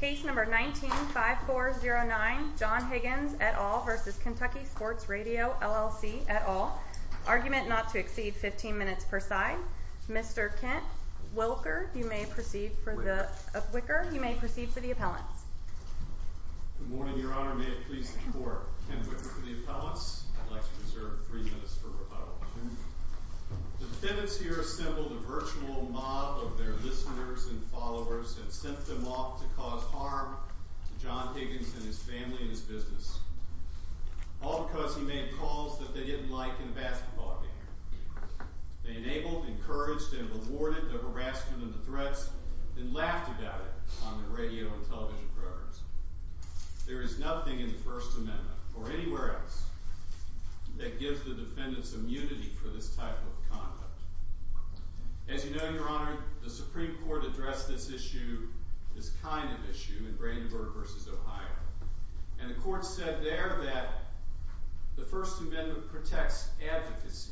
Case number 19-5409, John Higgins et al. v. Kentucky Sports Radio LLC et al. Argument not to exceed 15 minutes per side. Mr. Kent Wicker, you may proceed for the appellants. Good morning, Your Honor. May it please the Court. Ken Wicker for the appellants. I'd like to reserve three minutes for rebuttal. The defendants here assembled a virtual mob of their listeners and followers and sent them off to cause harm to John Higgins and his family and his business. All because he made calls that they didn't like in a basketball game. They enabled, encouraged, and rewarded the harassment and the threats and laughed about it on their radio and television programs. There is nothing in the First Amendment or anywhere else that gives the defendants immunity for this type of conduct. As you know, Your Honor, the Supreme Court addressed this issue, this kind of issue, in Brandenburg v. Ohio. And the Court said there that the First Amendment protects advocacy,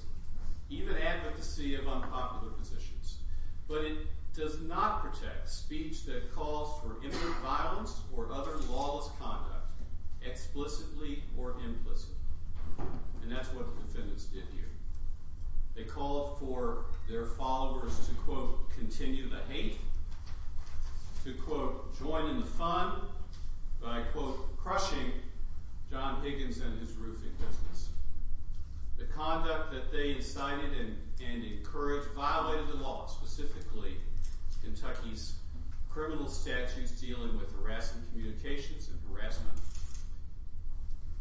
even advocacy of unpopular positions. But it does not protect speech that calls for imminent violence or other lawless conduct, explicitly or implicitly. And that's what the defendants did here. They called for their followers to, quote, continue the hate, to, quote, join in the fun, by, quote, crushing John Higgins and his roofing business. The conduct that they incited and encouraged violated the law, specifically Kentucky's criminal statutes dealing with harassment communications and harassment.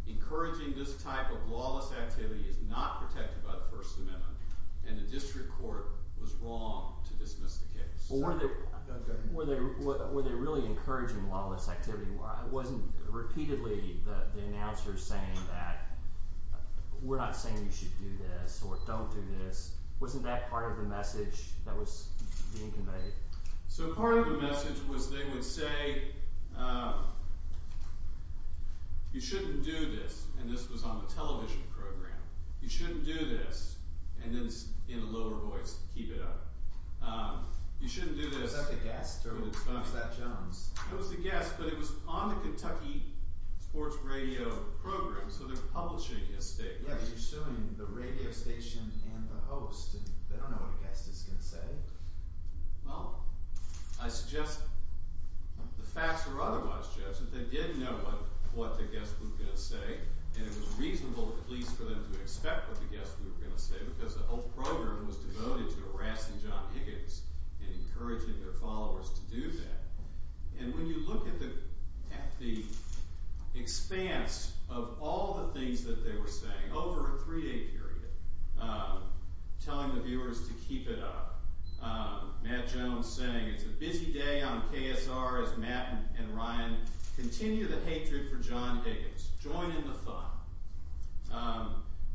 Encouraging this type of lawless activity is not protected by the First Amendment. And the District Court was wrong to dismiss the case. Were they really encouraging lawless activity? Wasn't it repeatedly the announcers saying that we're not saying you should do this or don't do this? Wasn't that part of the message that was being conveyed? So part of the message was they would say you shouldn't do this. And this was on the television program. You shouldn't do this. And then in a lower voice, keep it up. You shouldn't do this. Was that the guest or was that Jones? It was the guest, but it was on the Kentucky Sports Radio program. So they're publishing a statement. Yeah, but you're suing the radio station and the host. They don't know what a guest is going to say. Well, I suggest the facts were otherwise judged. They didn't know what the guest was going to say. And it was reasonable at least for them to expect what the guest was going to say because the whole program was devoted to harassing John Higgins and encouraging their followers to do that. And when you look at the expanse of all the things that they were saying over a three-day period telling the viewers to keep it up Matt Jones saying it's a busy day on KSR as Matt and Ryan continue the hatred for John Higgins. Join in the fun.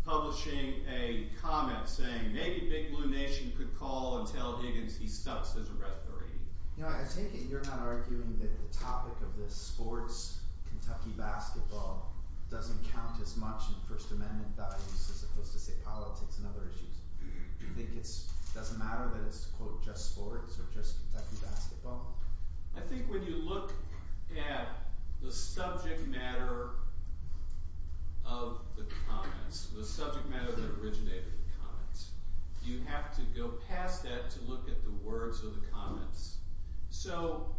Publishing a comment saying maybe Big Blue Nation could call and tell Higgins he sucks as a referee. I take it you're not arguing that the topic of this sports Kentucky basketball doesn't count as much in First Amendment values as opposed to say politics and other issues. It doesn't matter that it's just sports or just Kentucky basketball? I think when you look at the subject matter of the comments, the subject matter that originated the comments, you have to go past that and you have to look at the words of the comments. So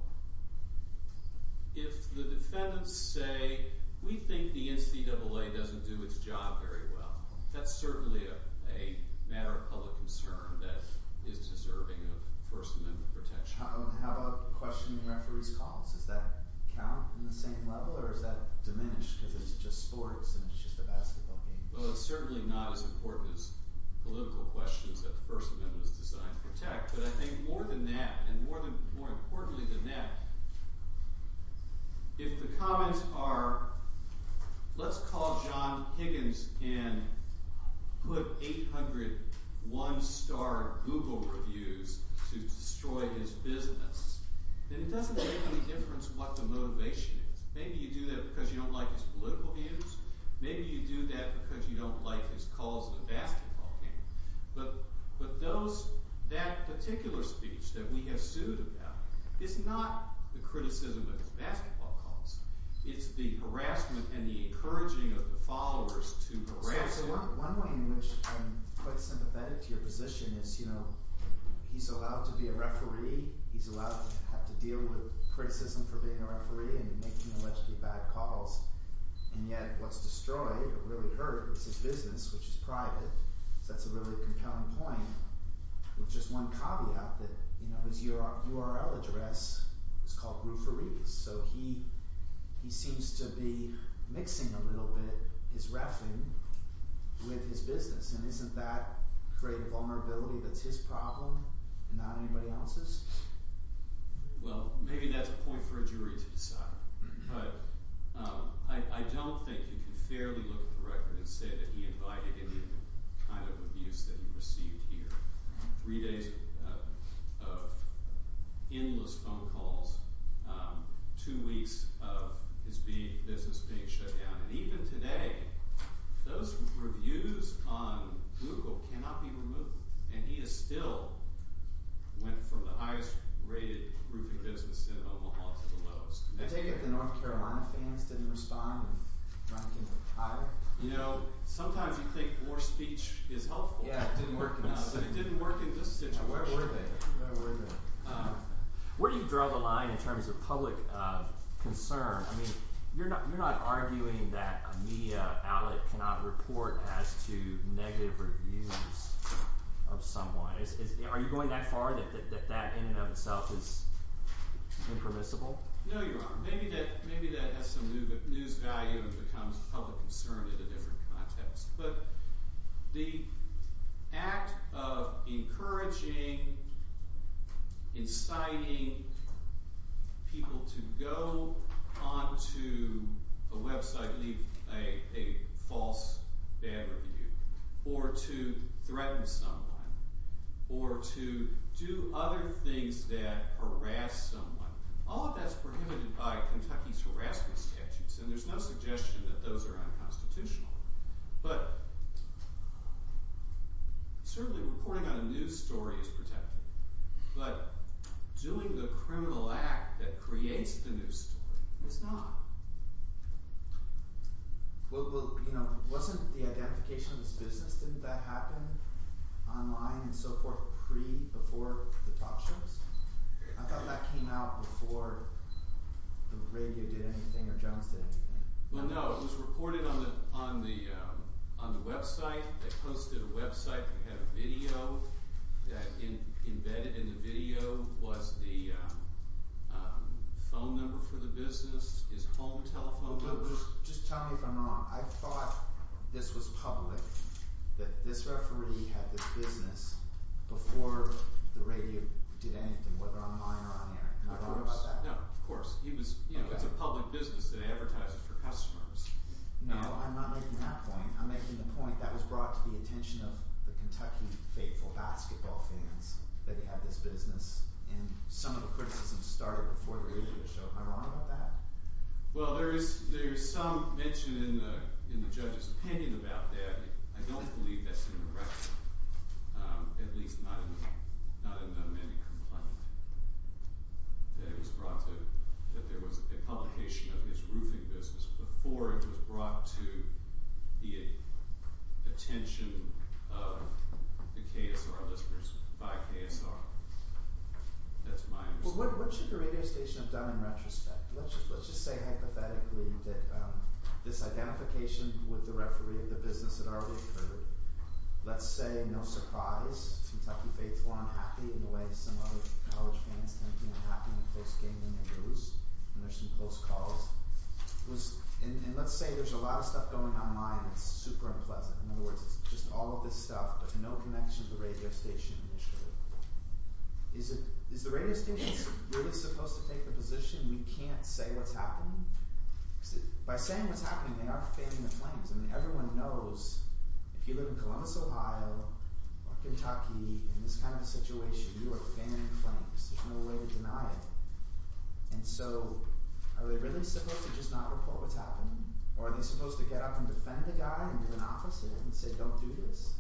if the defendants say we think the NCAA doesn't do it's job very well, that's certainly a matter of public concern that is deserving of First Amendment protection. How about questioning referees calls? Does that count in the same level or is that diminished because it's just sports and it's just a basketball game? Well it's certainly not as important as political questions that the First Amendment is designed to protect, but I think more than that and more importantly than that, if the comments are let's call John Higgins and put 800 one-star Google reviews to destroy his business, then it doesn't make any difference what the motivation is. Maybe you do that because you don't like his political views, maybe you do that because you don't like his calls in a basketball game, but that particular speech that we have sued about is not the criticism of his basketball calls, it's the harassment and the encouraging of the followers to harass him. One way in which I'm quite sympathetic to your position is he's allowed to be a referee he's allowed to have to deal with criticism for being a referee and making allegedly bad calls and yet what's destroyed or really hurt is his business, which is private, so that's a really compelling point with just one caveat that his URL address is called Rooferies, so he seems to be mixing a little bit his reffing with his business and isn't that a great vulnerability that's his problem and not anybody else's? Well maybe that's a point for a jury to decide, but I don't think you can fairly look at the record and say that he invited any kind of abuse that he received here. Three days of endless phone calls two weeks of his business being shut down and even today those reviews on Google cannot be removed and he has still went from the highest rated roofing business in Omaha to the lowest. I take it the North Carolina fans didn't respond and rank him higher? You know, sometimes you think more speech is helpful, but it didn't work in this situation. Where were they? Where do you draw the line in terms of public concern? I mean, you're not arguing that a media outlet cannot report as to negative reviews of someone. Are you going that far that that in and of itself is impermissible? No, Your Honor. Maybe that has some news value and becomes public concern in a different context, but the act of encouraging inciting people to go onto a website and leave a false bad review or to threaten someone or to do other things that harass someone. All of that is prohibited by Kentucky's harassment statutes and there's no suggestion that those are unconstitutional, but certainly reporting on a news story is protected, but doing the criminal act that creates the news story is not. Well, wasn't the identification of his business, didn't that happen online and so forth before the talk shows? I thought that came out before the radio did anything or Jones did anything. Well, no. It was reported on the website. They posted a website that had a video that embedded in the video was the phone number for the business, his home telephone number. Just tell me if I'm wrong. I thought this was public that this referee had this business before the radio did anything, whether online or on air. No, of course. It's a public business that advertises for customers. No, I'm not making that point. I'm making the point that was brought to the attention of the Kentucky faithful basketball fans that he had this business and some of the criticism started before the radio show. Am I wrong about that? Well, there is some mention in the I don't believe that's in the record, at least not in the many complaints that it was brought to that there was a publication of his roofing business before it was brought to the attention of the KSR listeners by KSR. That's my understanding. Well, what should the radio station have done in retrospect? Let's just say hypothetically that this identification with the referee of the business had already occurred. Let's say, no surprise, Kentucky faithful are unhappy in the way some other college fans tend to be unhappy when folks game in their booths and there's some close calls. And let's say there's a lot of stuff going online and it's super unpleasant. In other words, it's just all of this stuff, but no connection to the radio station initially. Is the radio station really supposed to take the position we can't say what's happening? By saying what's happening, they are fanning the flames. Everyone knows if you live in Columbus, Ohio or Kentucky in this kind of situation, you are fanning the flames. There's no way to deny it. And so, are they really supposed to just not report what's happening? Or are they supposed to get up and defend the guy in an office and say don't do this?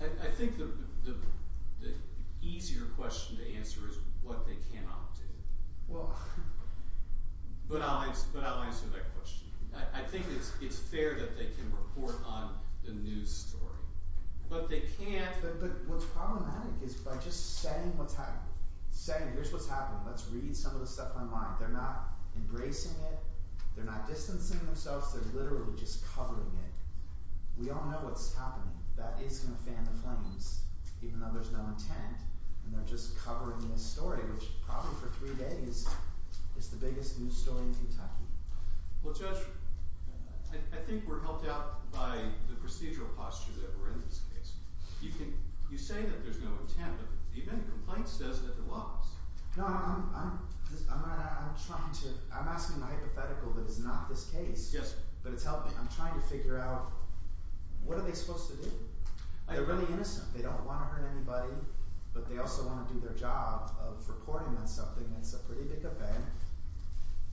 I think the easier question to answer is what they cannot do. But I'll answer that question. I think it's fair that they can report on the news story. But they can't... But what's problematic is by just saying here's what's happening. Let's read some of the stuff online. They're not embracing it. They're not distancing themselves. They're literally just covering it. We all know what's happening. That is going to fan the flames, even though there's no intent. And they're just covering this story, which probably for three days is the biggest news story in Kentucky. Well, Judge, I think we're helped out by the procedural posture that we're in in this case. You say that there's no intent, but even the complaint says that there was. No, I'm trying to... I'm asking a hypothetical that is not this case, but I'm trying to figure out what are they supposed to do? They're really innocent. They don't want to hurt anybody, but they also want to do their job of reporting on something that's a pretty big event.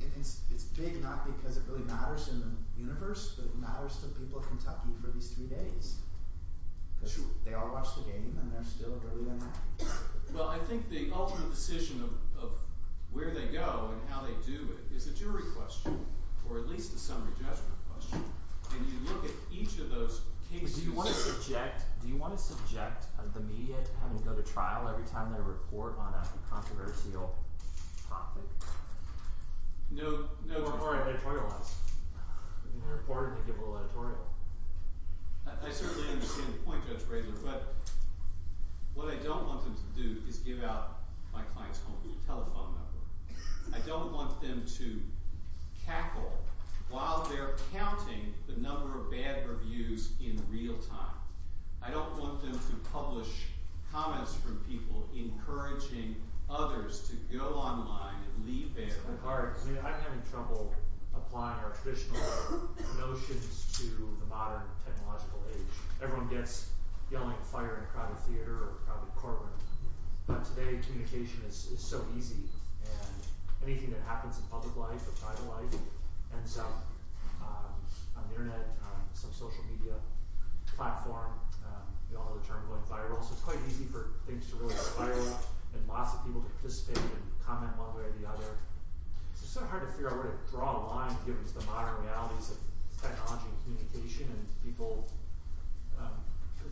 And it's big not because it really matters in the universe, but it matters to the people of Kentucky for these three days. Because they all watch the game, and they're still really unhappy. Well, I think the ultimate decision of where they go and how they do it is a jury question, or at least a summary judgment question. And you look at each of those cases... Do you want to subject... Do you want them to go to trial every time they report on a controversial topic? No. Or editorialize. They report, and they give a little editorial. I certainly understand the point, Judge Braylor, but what I don't want them to do is give out my client's home telephone number. I don't want them to cackle while they're counting the number of bad reviews in real time. I don't want them to publish comments from people encouraging others to go online and leave there. I'm having trouble applying our traditional notions to the modern technological age. Everyone gets yelling fire in a crowded theater or a crowded courtroom. But today, communication is so easy. And anything that happens in public life or private life ends up on the internet, on some social media platform. We all know the term going viral. So it's quite easy for things to really spiral, and lots of people to participate and comment one way or the other. It's sort of hard to figure out where to draw a line given the modern realities of technology and communication, and people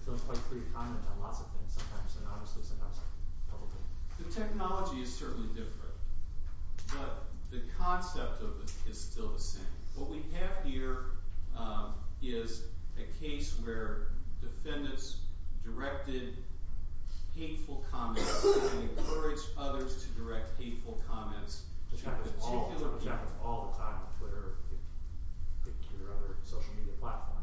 don't quite free to comment on lots of things sometimes, and honestly sometimes publicly. The technology is certainly different, but the concept of it is still the same. What we have here is a case where defendants directed hateful comments and encouraged others to direct hateful comments to particular people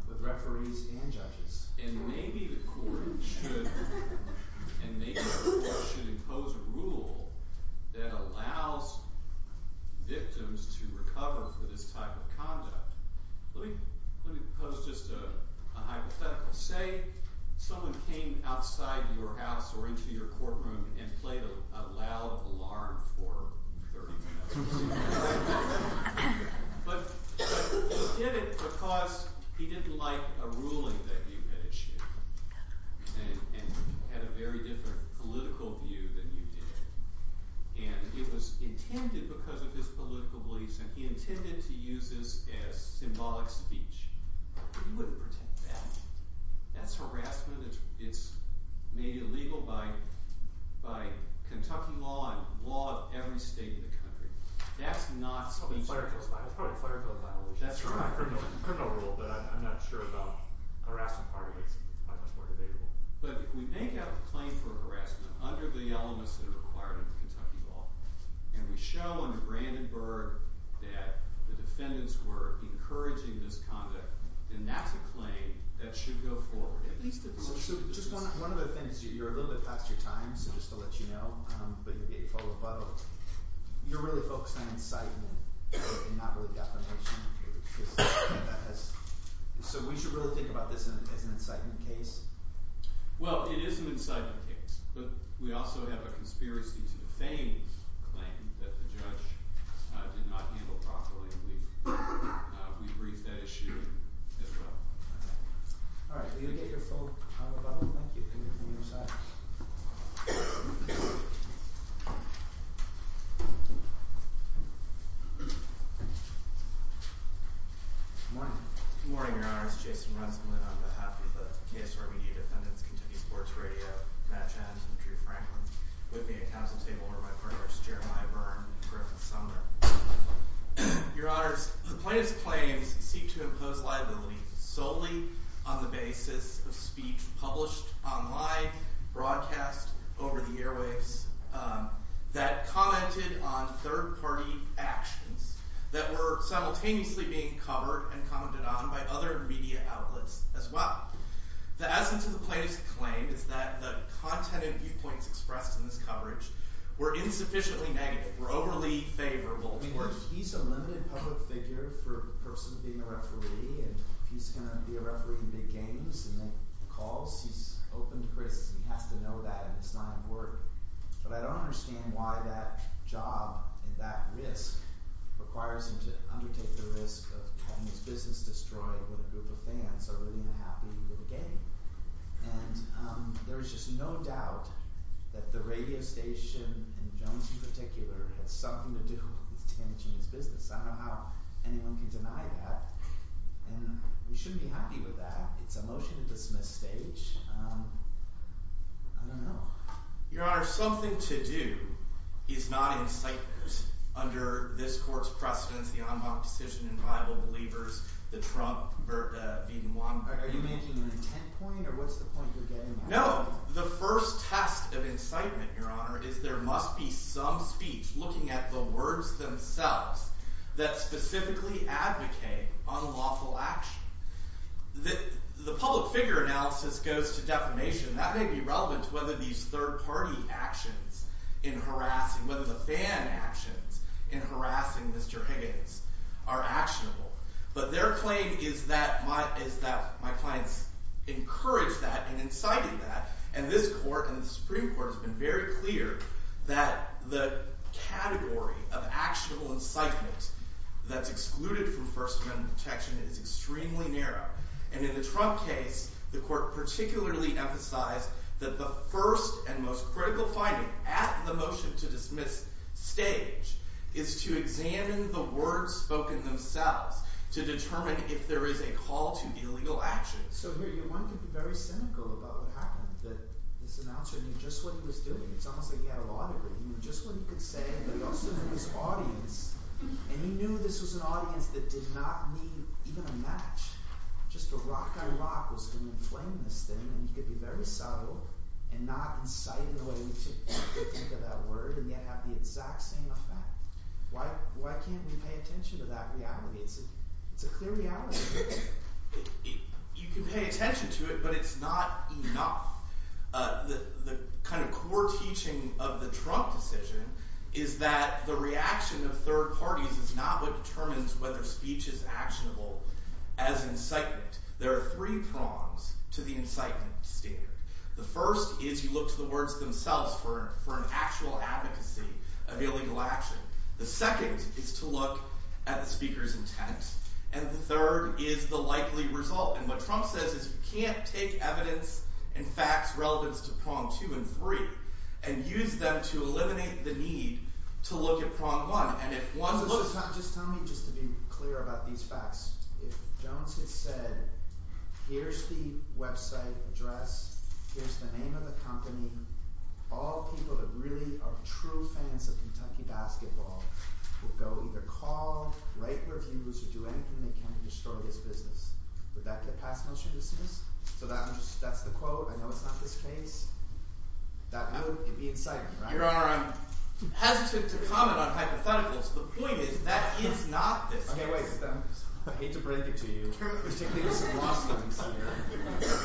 with referees and judges. And maybe the court should impose a rule that allows victims to recover for this type of conduct. Let me pose just a hypothetical. Say someone came outside your house or into your courtroom and played a loud alarm for 30 minutes. But he did it because he didn't like a ruling that you had issued. And had a very different political view than you did. And it was intended because of his political beliefs and he intended to use this as symbolic speech. But he wouldn't pretend that. That's harassment. It's made illegal by Kentucky law and law of every state in the country. That's not speech. It's probably a fire drill violation. It's a criminal rule, but I'm not sure about harassment parties. But we may have a claim for harassment under the elements that are required under Kentucky law. And we show under Brandenburg that the defendants were encouraging this conduct. And that's a claim that should go forward. Just to let you know, you're really focused on incitement and not really defamation. So we should really think about this as an incitement case? Well, it is an incitement case. But we also have a conspiracy to defame claim that the judge did not handle properly. And we briefed that issue as well. Good morning. Good morning, your honors. Jason Rensselaer on behalf of the KSR Media Defendants, Kentucky Sports Radio, Matt Chant and Drew Franklin with me at council table are my partners Jeremiah Byrne and Griffith Sumner. Your honors, the plaintiff's claims seek to impose liability solely on the basis of speech published online, broadcast over the airwaves that commented on third party actions that were simultaneously being covered and commented on by other media outlets as well. The essence of the plaintiff's claim is that the content and viewpoints expressed in this coverage were insufficiently negative, were overly favorable. I mean, he's a limited public figure for a person being a referee. And if he's going to be a referee in big games and make calls, he's open to criticism. He has to know that. And it's not important. But I don't understand why that job and that risk requires him to undertake the risk of having his business destroyed when a group of fans are really unhappy with the game. And there is just no doubt that the radio station, and Jones in particular, had something to do with Tannich and his business. I don't know how anyone can deny that. And we shouldn't be happy with that. It's a motion to dismiss stage. I don't know. Your honors, something to do is not in sight under this court's precedence. The Anbach decision in Bible Believers, the Trump, Are you making an intent point, or what's the point you're getting at? No. The first test of incitement, your honor, is there must be some speech looking at the words themselves that specifically advocate unlawful action. The public figure analysis goes to defamation. That may be relevant to whether these third party actions in harassing, whether the fan actions in harassing Mr. Higgins are actionable. But their claim is that my clients encouraged that and incited that, and this court and the Supreme Court has been very clear that the category of actionable incitement that's excluded from First Amendment protection is extremely narrow. And in the Trump case, the court particularly emphasized that the first and most critical finding at the motion to dismiss stage is to examine the words spoken themselves to determine if there is a call to illegal action. So here, your mind could be very cynical about what happened, that this announcer knew just what he was doing. It's almost like he had a law degree. He knew just what he could say, but he also knew his audience, and he knew this was an audience that did not need even a match. Just a rock-by-rock was going to inflame this thing, and he could be very subtle and not incite in the way we think of that word, and yet have the exact same effect. Why can't we pay attention to that reality? It's a clear reality. You can pay attention to it, but it's not enough. The kind of core teaching of the Trump decision is that the reaction of third parties is not what determines whether speech is actionable as incitement. There are three prongs to the incitement standard. The first is you look to the words themselves for an actual advocacy of illegal action. The second is to look at the speaker's intent, and the third is the likely result, and what Trump says is you can't take evidence and facts relevant to prong two and three and use them to eliminate the need to look at prong one, and if one looks... Just tell me, just to be clear about these facts, if Jones had said, here's the website address, here's the name of the company, all people that really are true fans of Kentucky basketball would go either call, write reviews, or do anything they can to destroy this business. Would that get passed, motion dismissed? So that's the quote. I know it's not this case. That would be incitement, right? Your Honor, I'm hesitant to comment on hypotheticals. The point is, that is not this case. Okay, wait. I hate to break it to you.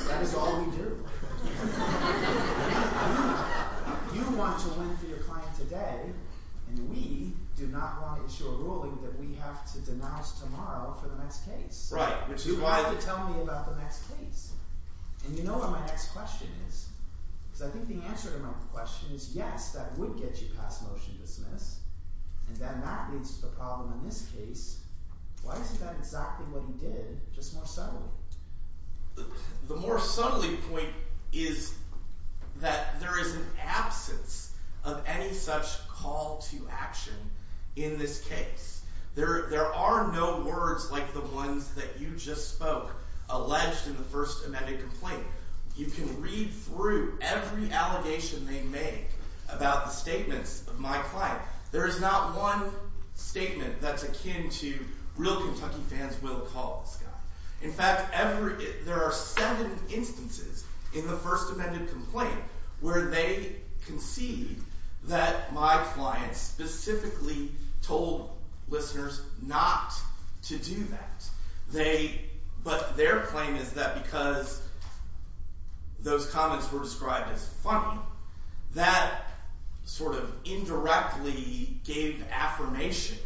That is all we do. You want to win for your client today, and we do not want to issue a ruling that we have to denounce tomorrow for the next case. You have to tell me about the next case. And you know what my next question is? Because I think the answer to my question is yes, that would get you passed, motion dismissed, and then that solves the problem in this case. Why is that exactly what he did, just more subtly? The more subtly point is that there is an absence of any such call to action in this case. There are no words like the ones that you just spoke alleged in the first amended complaint. You can read through every allegation they make about the statements of my client. There is not one statement that's akin to real Kentucky fans will call this guy. In fact, there are seven instances in the first amended complaint where they concede that my client specifically told listeners not to do that. But their claim is that because those comments were described as funny, that sort of indirectly gave affirmation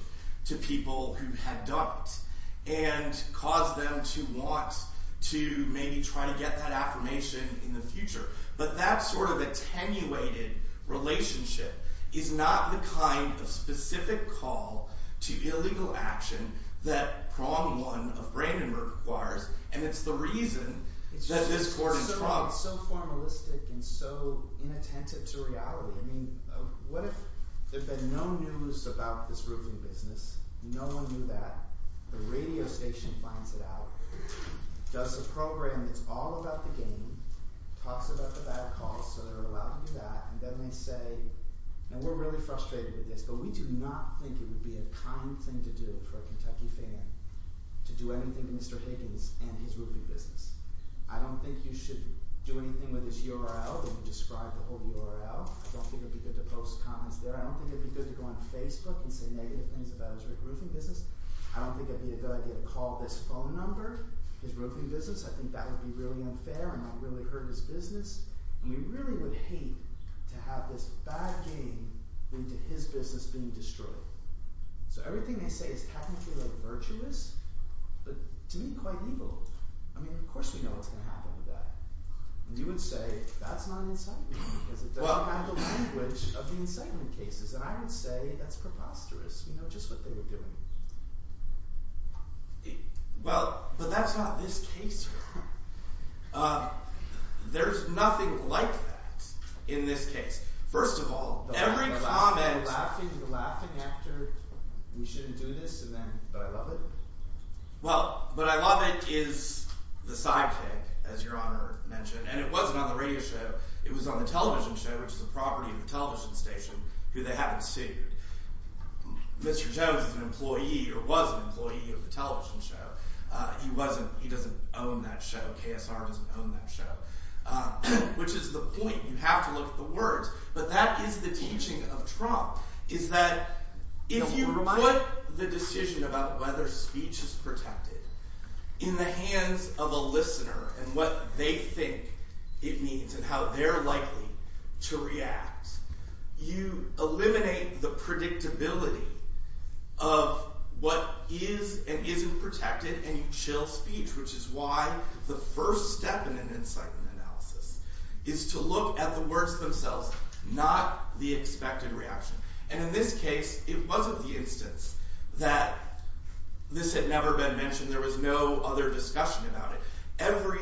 to people who had doubts, and caused them to want to maybe try to get that affirmation in the future. But that sort of attenuated relationship is not the kind of specific call to illegal action that prong one of Brandenburg requires, and it's the reason that this court in trouble. It's just so formalistic and so inattentive to reality. I mean, what if there had been no news about this roofing business, no one knew that, the radio station finds it out, does a program that's all about the game, talks about the bad calls so they're allowed to do that, and then they say now we're really frustrated with this, but we do not think it would be a kind thing to do for a Kentucky fan to do anything to Mr. Higgins and his roofing business. I don't think you should do anything with his URL, describe the whole URL, I don't think it would be good to post comments there, I don't think it would be good to go on Facebook and say negative things about his roofing business, I don't think it would be a good idea to call this phone number, his roofing business, I think that would be really unfair and that would really hurt his business, and we really would hate to have this bad game into his business being destroyed. So everything they say is technically virtuous, but to me quite evil. I mean, of course we know what's going to happen with that, and you would say that's not incitement, because it doesn't have the language of the incitement cases, and I would say that's preposterous, you know, just what they were doing. Well, but that's not this case here. There's nothing like that in this case. First of all, every comment... The laughing after, we shouldn't do this, and then, but I love it? Well, but I love it is the sidekick, as your honor mentioned, and it wasn't on the radio show, it was on the television show, which is a property of the television station, who they haven't sued. Mr. Jones is an employee, or was an employee of the television show. He doesn't own that show, KSR doesn't own that show. Which is the point, you have to look at the words, but that is the teaching of Trump, is that if you put the decision about whether speech is protected in the hands of a listener, and what they think it means, and how they're likely to react, you eliminate the predictability of what is and isn't protected, and you chill speech, which is why the first step in an incitement analysis is to look at the words themselves, not the expected reaction. And in this case, it wasn't the instance that this had never been mentioned, there was no other discussion about it. Every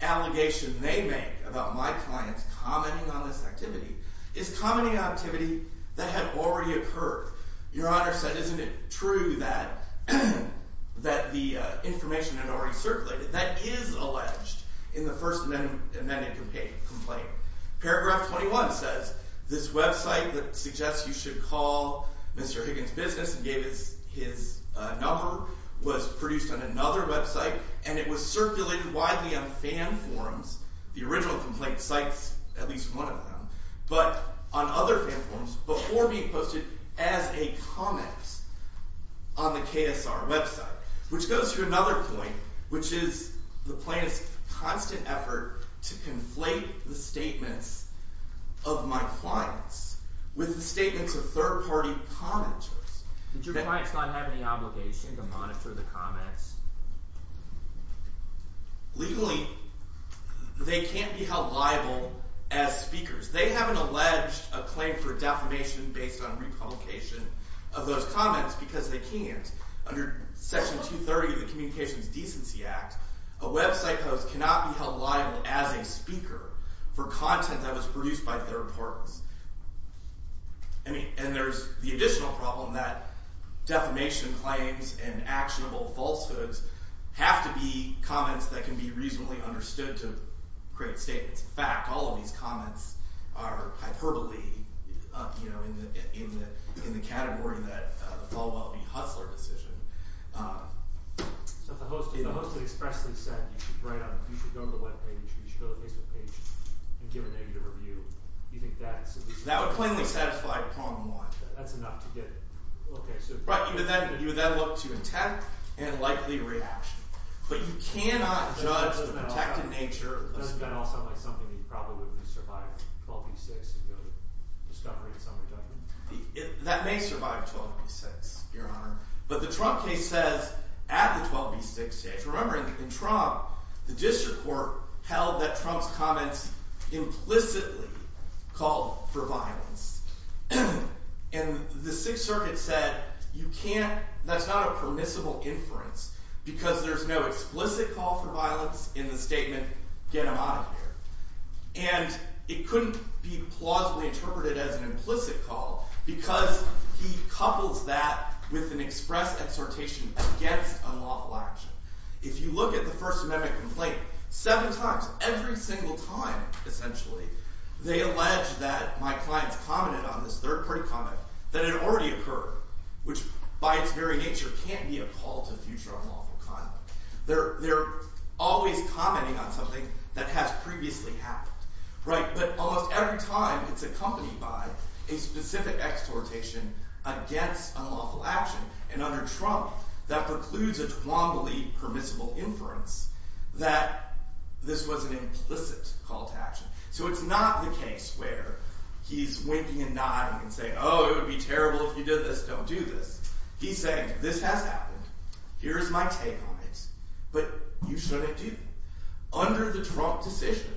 allegation they make about my clients commenting on this activity, is commenting on activity that had already occurred. Your honor said, isn't it true that the information had already circulated? That is alleged in the first amended complaint. Paragraph 21 says, this website that suggests you should call Mr. Higgins' business and gave us his number, was produced on another website, and it was circulated widely on fan forums, the original complaint cites at least one of them, but on other fan forums, before being posted as a comment on the KSR website. Which goes to another point, which is the plaintiff's constant effort to conflate the statements of my clients with the statements of third party commenters. Did your clients not have any obligation to monitor the comments? Legally, they can't be held liable as speakers. They haven't alleged a claim for defamation based on republication of those comments, because they can't. Under Section 230 of the Communications Decency Act, a website post cannot be held liable as a speaker for content that was And there's the additional problem that defamation claims and actionable falsehoods have to be comments that can be reasonably understood to create statements. In fact, all of these comments are hyperbole in the category that the Falwell v. Hutzler decision So if the host had expressly said, you should go to the webpage, or you should go to the Facebook page, and give a negative review, that would plainly satisfy problem one. You would then look to attack and likely react. But you cannot judge the protected nature Doesn't that all sound like something that would probably survive 12 v. 6? That may survive 12 v. 6, your honor. But the Trump case says, at the 12 v. 6 stage, remember in Trump, the district court held that Trump's comments implicitly called for violence And the 6th Circuit said, you can't that's not a permissible inference, because there's no explicit call for violence in the statement, get him out of here. And it couldn't be plausibly interpreted as an implicit call, because he couples that with an express exhortation against unlawful action. If you look at the First Amendment complaint, seven times, every single time, essentially, they allege that my clients commented on this third-party comment, that it already occurred, which by its very nature can't be a call to future unlawful conduct. They're always commenting on something that has previously happened. But almost every time, it's accompanied by a specific exhortation against unlawful action, and under Trump, that precludes a Twombly permissible inference that this was an implicit call to action. So it's not the case where he's winking and nodding and saying, oh, it would be terrible if you did this, don't do this. He's saying, this has happened, here's my take on it, but you shouldn't do it. Under the Trump decision,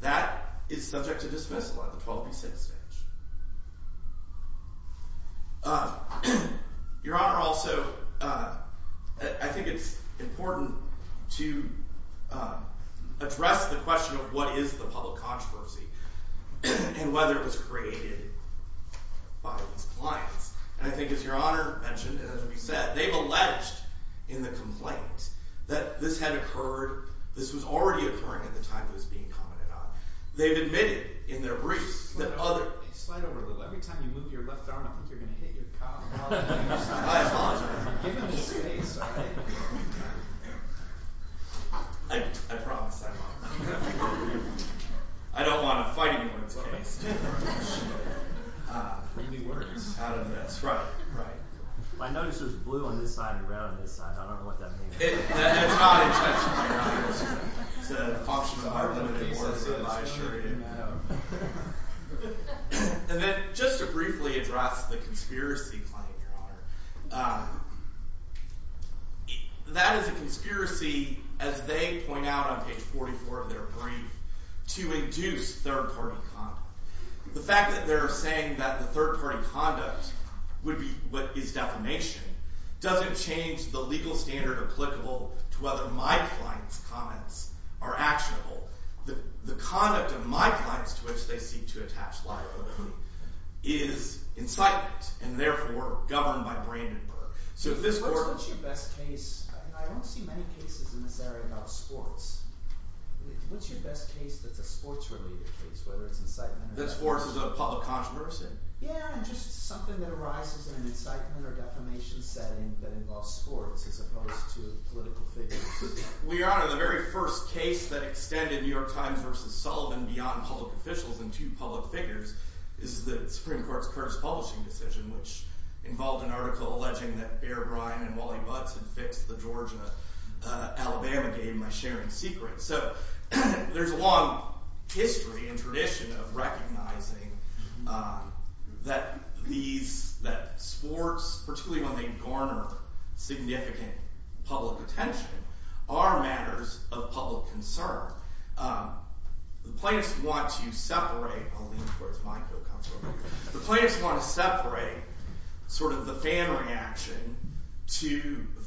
that is subject to dismissal at the 12 v. 6 stage. Your Honor, also I think it's important to address the question of what is the public controversy and whether it was created by these clients. And I think, as Your Honor mentioned, and as we said, they've alleged in the complaint that this had occurred, this was already occurring at the time it was being commented on. They've admitted in their briefs that other- Slide over a little. Every time you move your left arm, I think you're going to hit your car. I apologize. I promise I won't. I don't want to fight anyone's case. Read me words. Out of this. Right. I noticed there's blue on this side and red on this side. I don't know what that means. It's not intentional, Your Honor. It's an option of art. And then just to briefly address the conspiracy claim, Your Honor. That is a conspiracy, as they point out on page 44 of their brief, to induce third-party conduct. The fact that they're saying that the third-party conduct would be what is defamation doesn't change the legal standard applicable to whether my client's comments are actionable. The conduct of my clients, to which they seek to attach liability, is incitement, and therefore governed by Brandenburg. What's your best case? I don't see many cases in this area about sports. What's your best case that's a sports-related case, whether it's incitement or defamation? That sports is a public controversy? Yeah, and just something that arises in an incitement or defamation setting that involves sports, as opposed to political figures. Your Honor, the very first case that extended New York Times v. Sullivan beyond public figures is the Supreme Court's Curtis Publishing decision, which involved an article alleging that Bear Bryant and Wally Butz had fixed the Georgia- Alabama game by sharing secrets. So, there's a long history and tradition of recognizing that sports, particularly when they garner significant public attention, are matters of public concern. The plaintiffs want to separate the fan reaction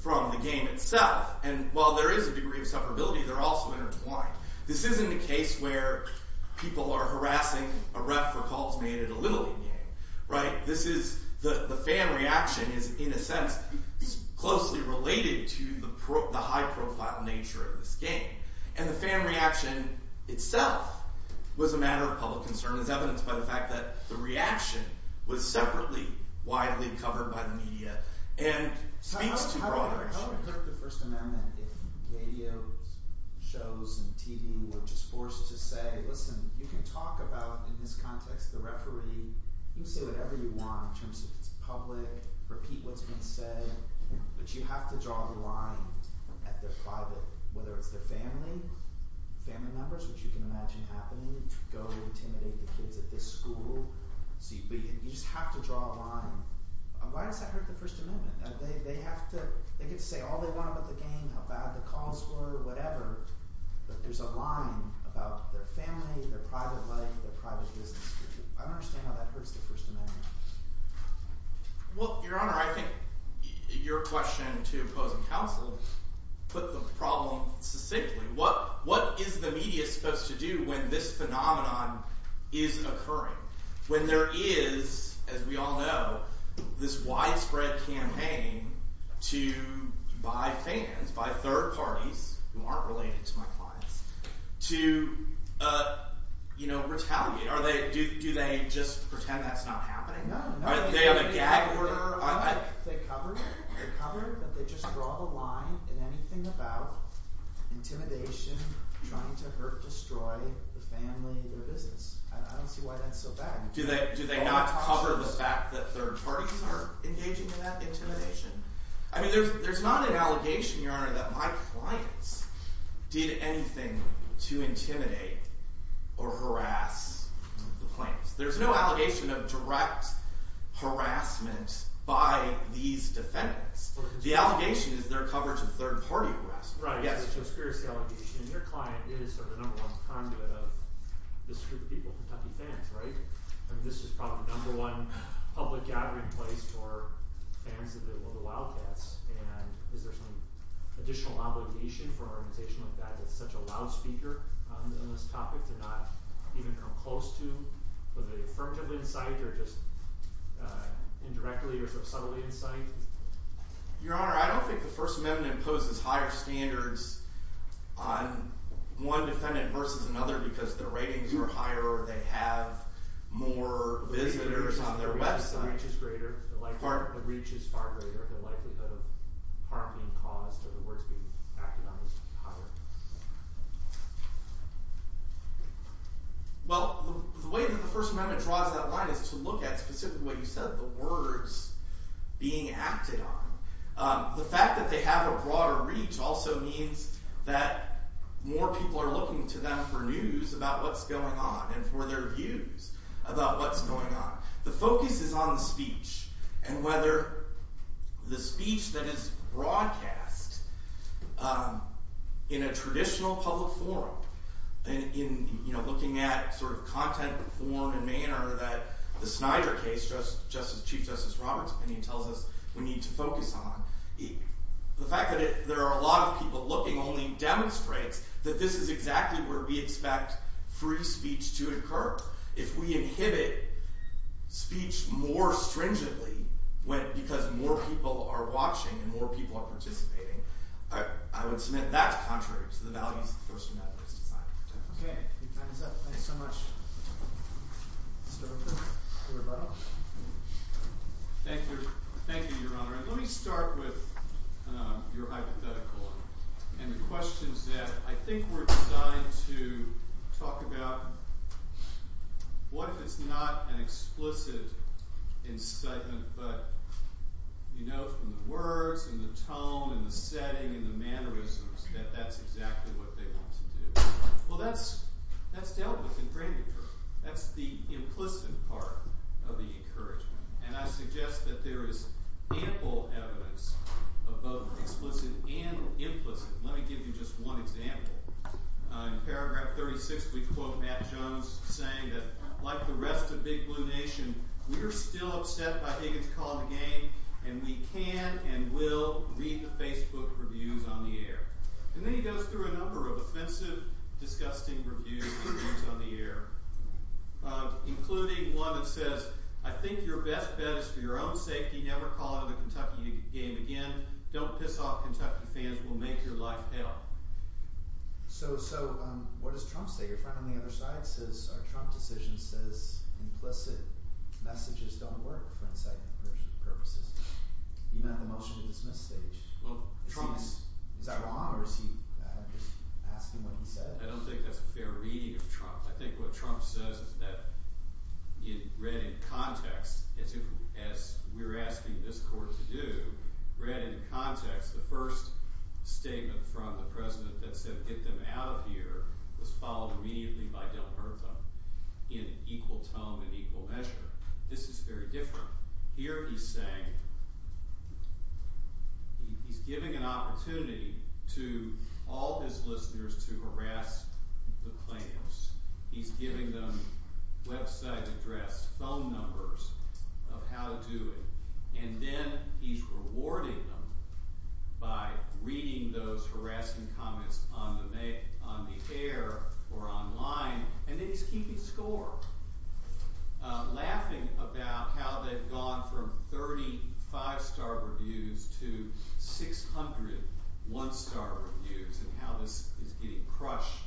from the game itself. While there is a degree of separability, they're also intertwined. This isn't a case where people are harassing a ref for calls made at a Little League game. The fan reaction is, in a sense, closely related to the high-profile nature of this game. And the fan reaction itself was a matter of public concern, as evidenced by the fact that the reaction was separately widely covered by the media, and speaks to broader issues. How would the First Amendment, if radio shows and TV were just forced to say, listen, you can talk about in this context the referee, you can say whatever you want in terms of if it's public, repeat what's been said, but you have to draw the line at their private, whether it's their family, family members, which you can imagine happening, go intimidate the kids at this school. You just have to draw a line. Why does that hurt the First Amendment? They get to say all they want about the game, how bad the calls were, whatever, but there's a line about their family, their private life, their private business. I don't understand how that hurts the First Amendment. Well, Your Honor, I think your question to opposing counsel put the problem succinctly. What is the media supposed to do when this phenomenon is occurring, when there is, as we all know, this widespread campaign to buy fans, buy third parties, who aren't related to my clients, to retaliate? Do they just pretend that's not happening? No, no. Do they have a gag order? Do they cover that they just draw the line in anything about intimidation trying to hurt, destroy the family, their business? I don't see why that's so bad. Do they not cover the fact that third parties are engaging in that intimidation? I mean, there's not an allegation, Your Honor, that my clients did anything to intimidate or harass the clients. There's no harassment by these defendants. The allegation is their coverage of third party harassment. And your client is sort of the number one conduit of this group of people, Kentucky fans, right? I mean, this is probably the number one public gathering place for fans of the Wildcats, and is there some additional obligation for an organization like that that's such a loud speaker on this topic to not even come close to the affirmative insight or just indirectly or some subtle insight? Your Honor, I don't think the First Amendment imposes higher standards on one defendant versus another because their ratings are higher or they have more visitors on their website. The reach is greater. The reach is far greater. The likelihood of harm being caused or the words being acted on is higher. Well, the way that the First Amendment draws that line is to look at specifically what you said, the words being acted on. The fact that they have a broader reach also means that more people are looking to them for news about what's going on and for their views about what's going on. The focus is on the speech and whether the speech that is broadcast in a traditional public forum in looking at sort of content, form, and manner that the Snyder case, Chief Justice Roberts' opinion, tells us we need to focus on. The fact that there are a lot of people looking only demonstrates that this is exactly where we expect free speech to occur. If we inhibit speech more stringently because more people are participating, I would submit that's contrary to the values the First Amendment is designed to protect. Thank you, Your Honor. Let me start with your hypothetical and the questions that I think were designed to talk about what if it's not an explicit incitement but you know from the words and the tone and the setting and the mannerisms that that's exactly what they want to do. Well, that's dealt with in grander terms. That's the implicit part of the encouragement. And I suggest that there is ample evidence of both explicit and implicit. Let me give you just one example. In paragraph 36, we quote Matt Jones saying that like the rest of Big Blue Nation, we're still upset by Higgins' call to the game and we can and will read the Facebook reviews on the air. And then he goes through a number of offensive disgusting reviews on the air. Including one that says, I think your best bet is for your own safety never call into the Kentucky game again. Don't piss off Kentucky fans. We'll make your life hell. So what does Trump say? Your friend on the other side says our Trump decision says implicit messages don't work for incitement purposes. You met the motion to dismiss stage. Is that wrong or is he asking what he said? I don't think that's a fair reading of Trump. I think what Trump says is that read in context as we're asking this court to do, read in context the first statement from the president that said get them out of here was followed immediately by Del Pertham in equal tone and equal measure. This is very different. Here he's saying, he's giving an opportunity to all his listeners to harass the claims. He's giving them website address, phone numbers of how to do it. And then he's rewarding them by reading those harassing comments on the air or online and then he's keeping score, laughing about how they've gone from 35 star reviews to 600 one star reviews and how this is getting crushed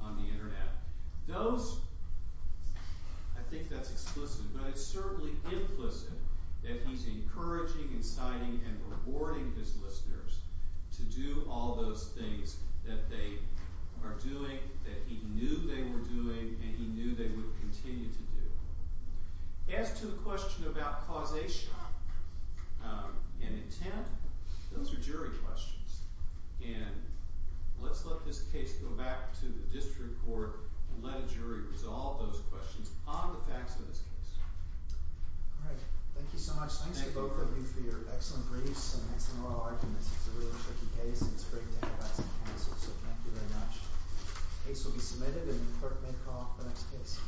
on the internet. Those, I think that's explicit, but it's certainly implicit that he's encouraging and inciting and rewarding his listeners to do all those things that they are doing that he knew they were doing and he knew they would continue to do. As to the question about causation and intent, those are jury questions and let's let this case go back to the district court and let a jury resolve those questions on the facts of this case. Alright, thank you so much. Thanks to both of you for your excellent briefs and excellent oral arguments. It's a really tricky case and it's going to be submitted and the court may call off the next case.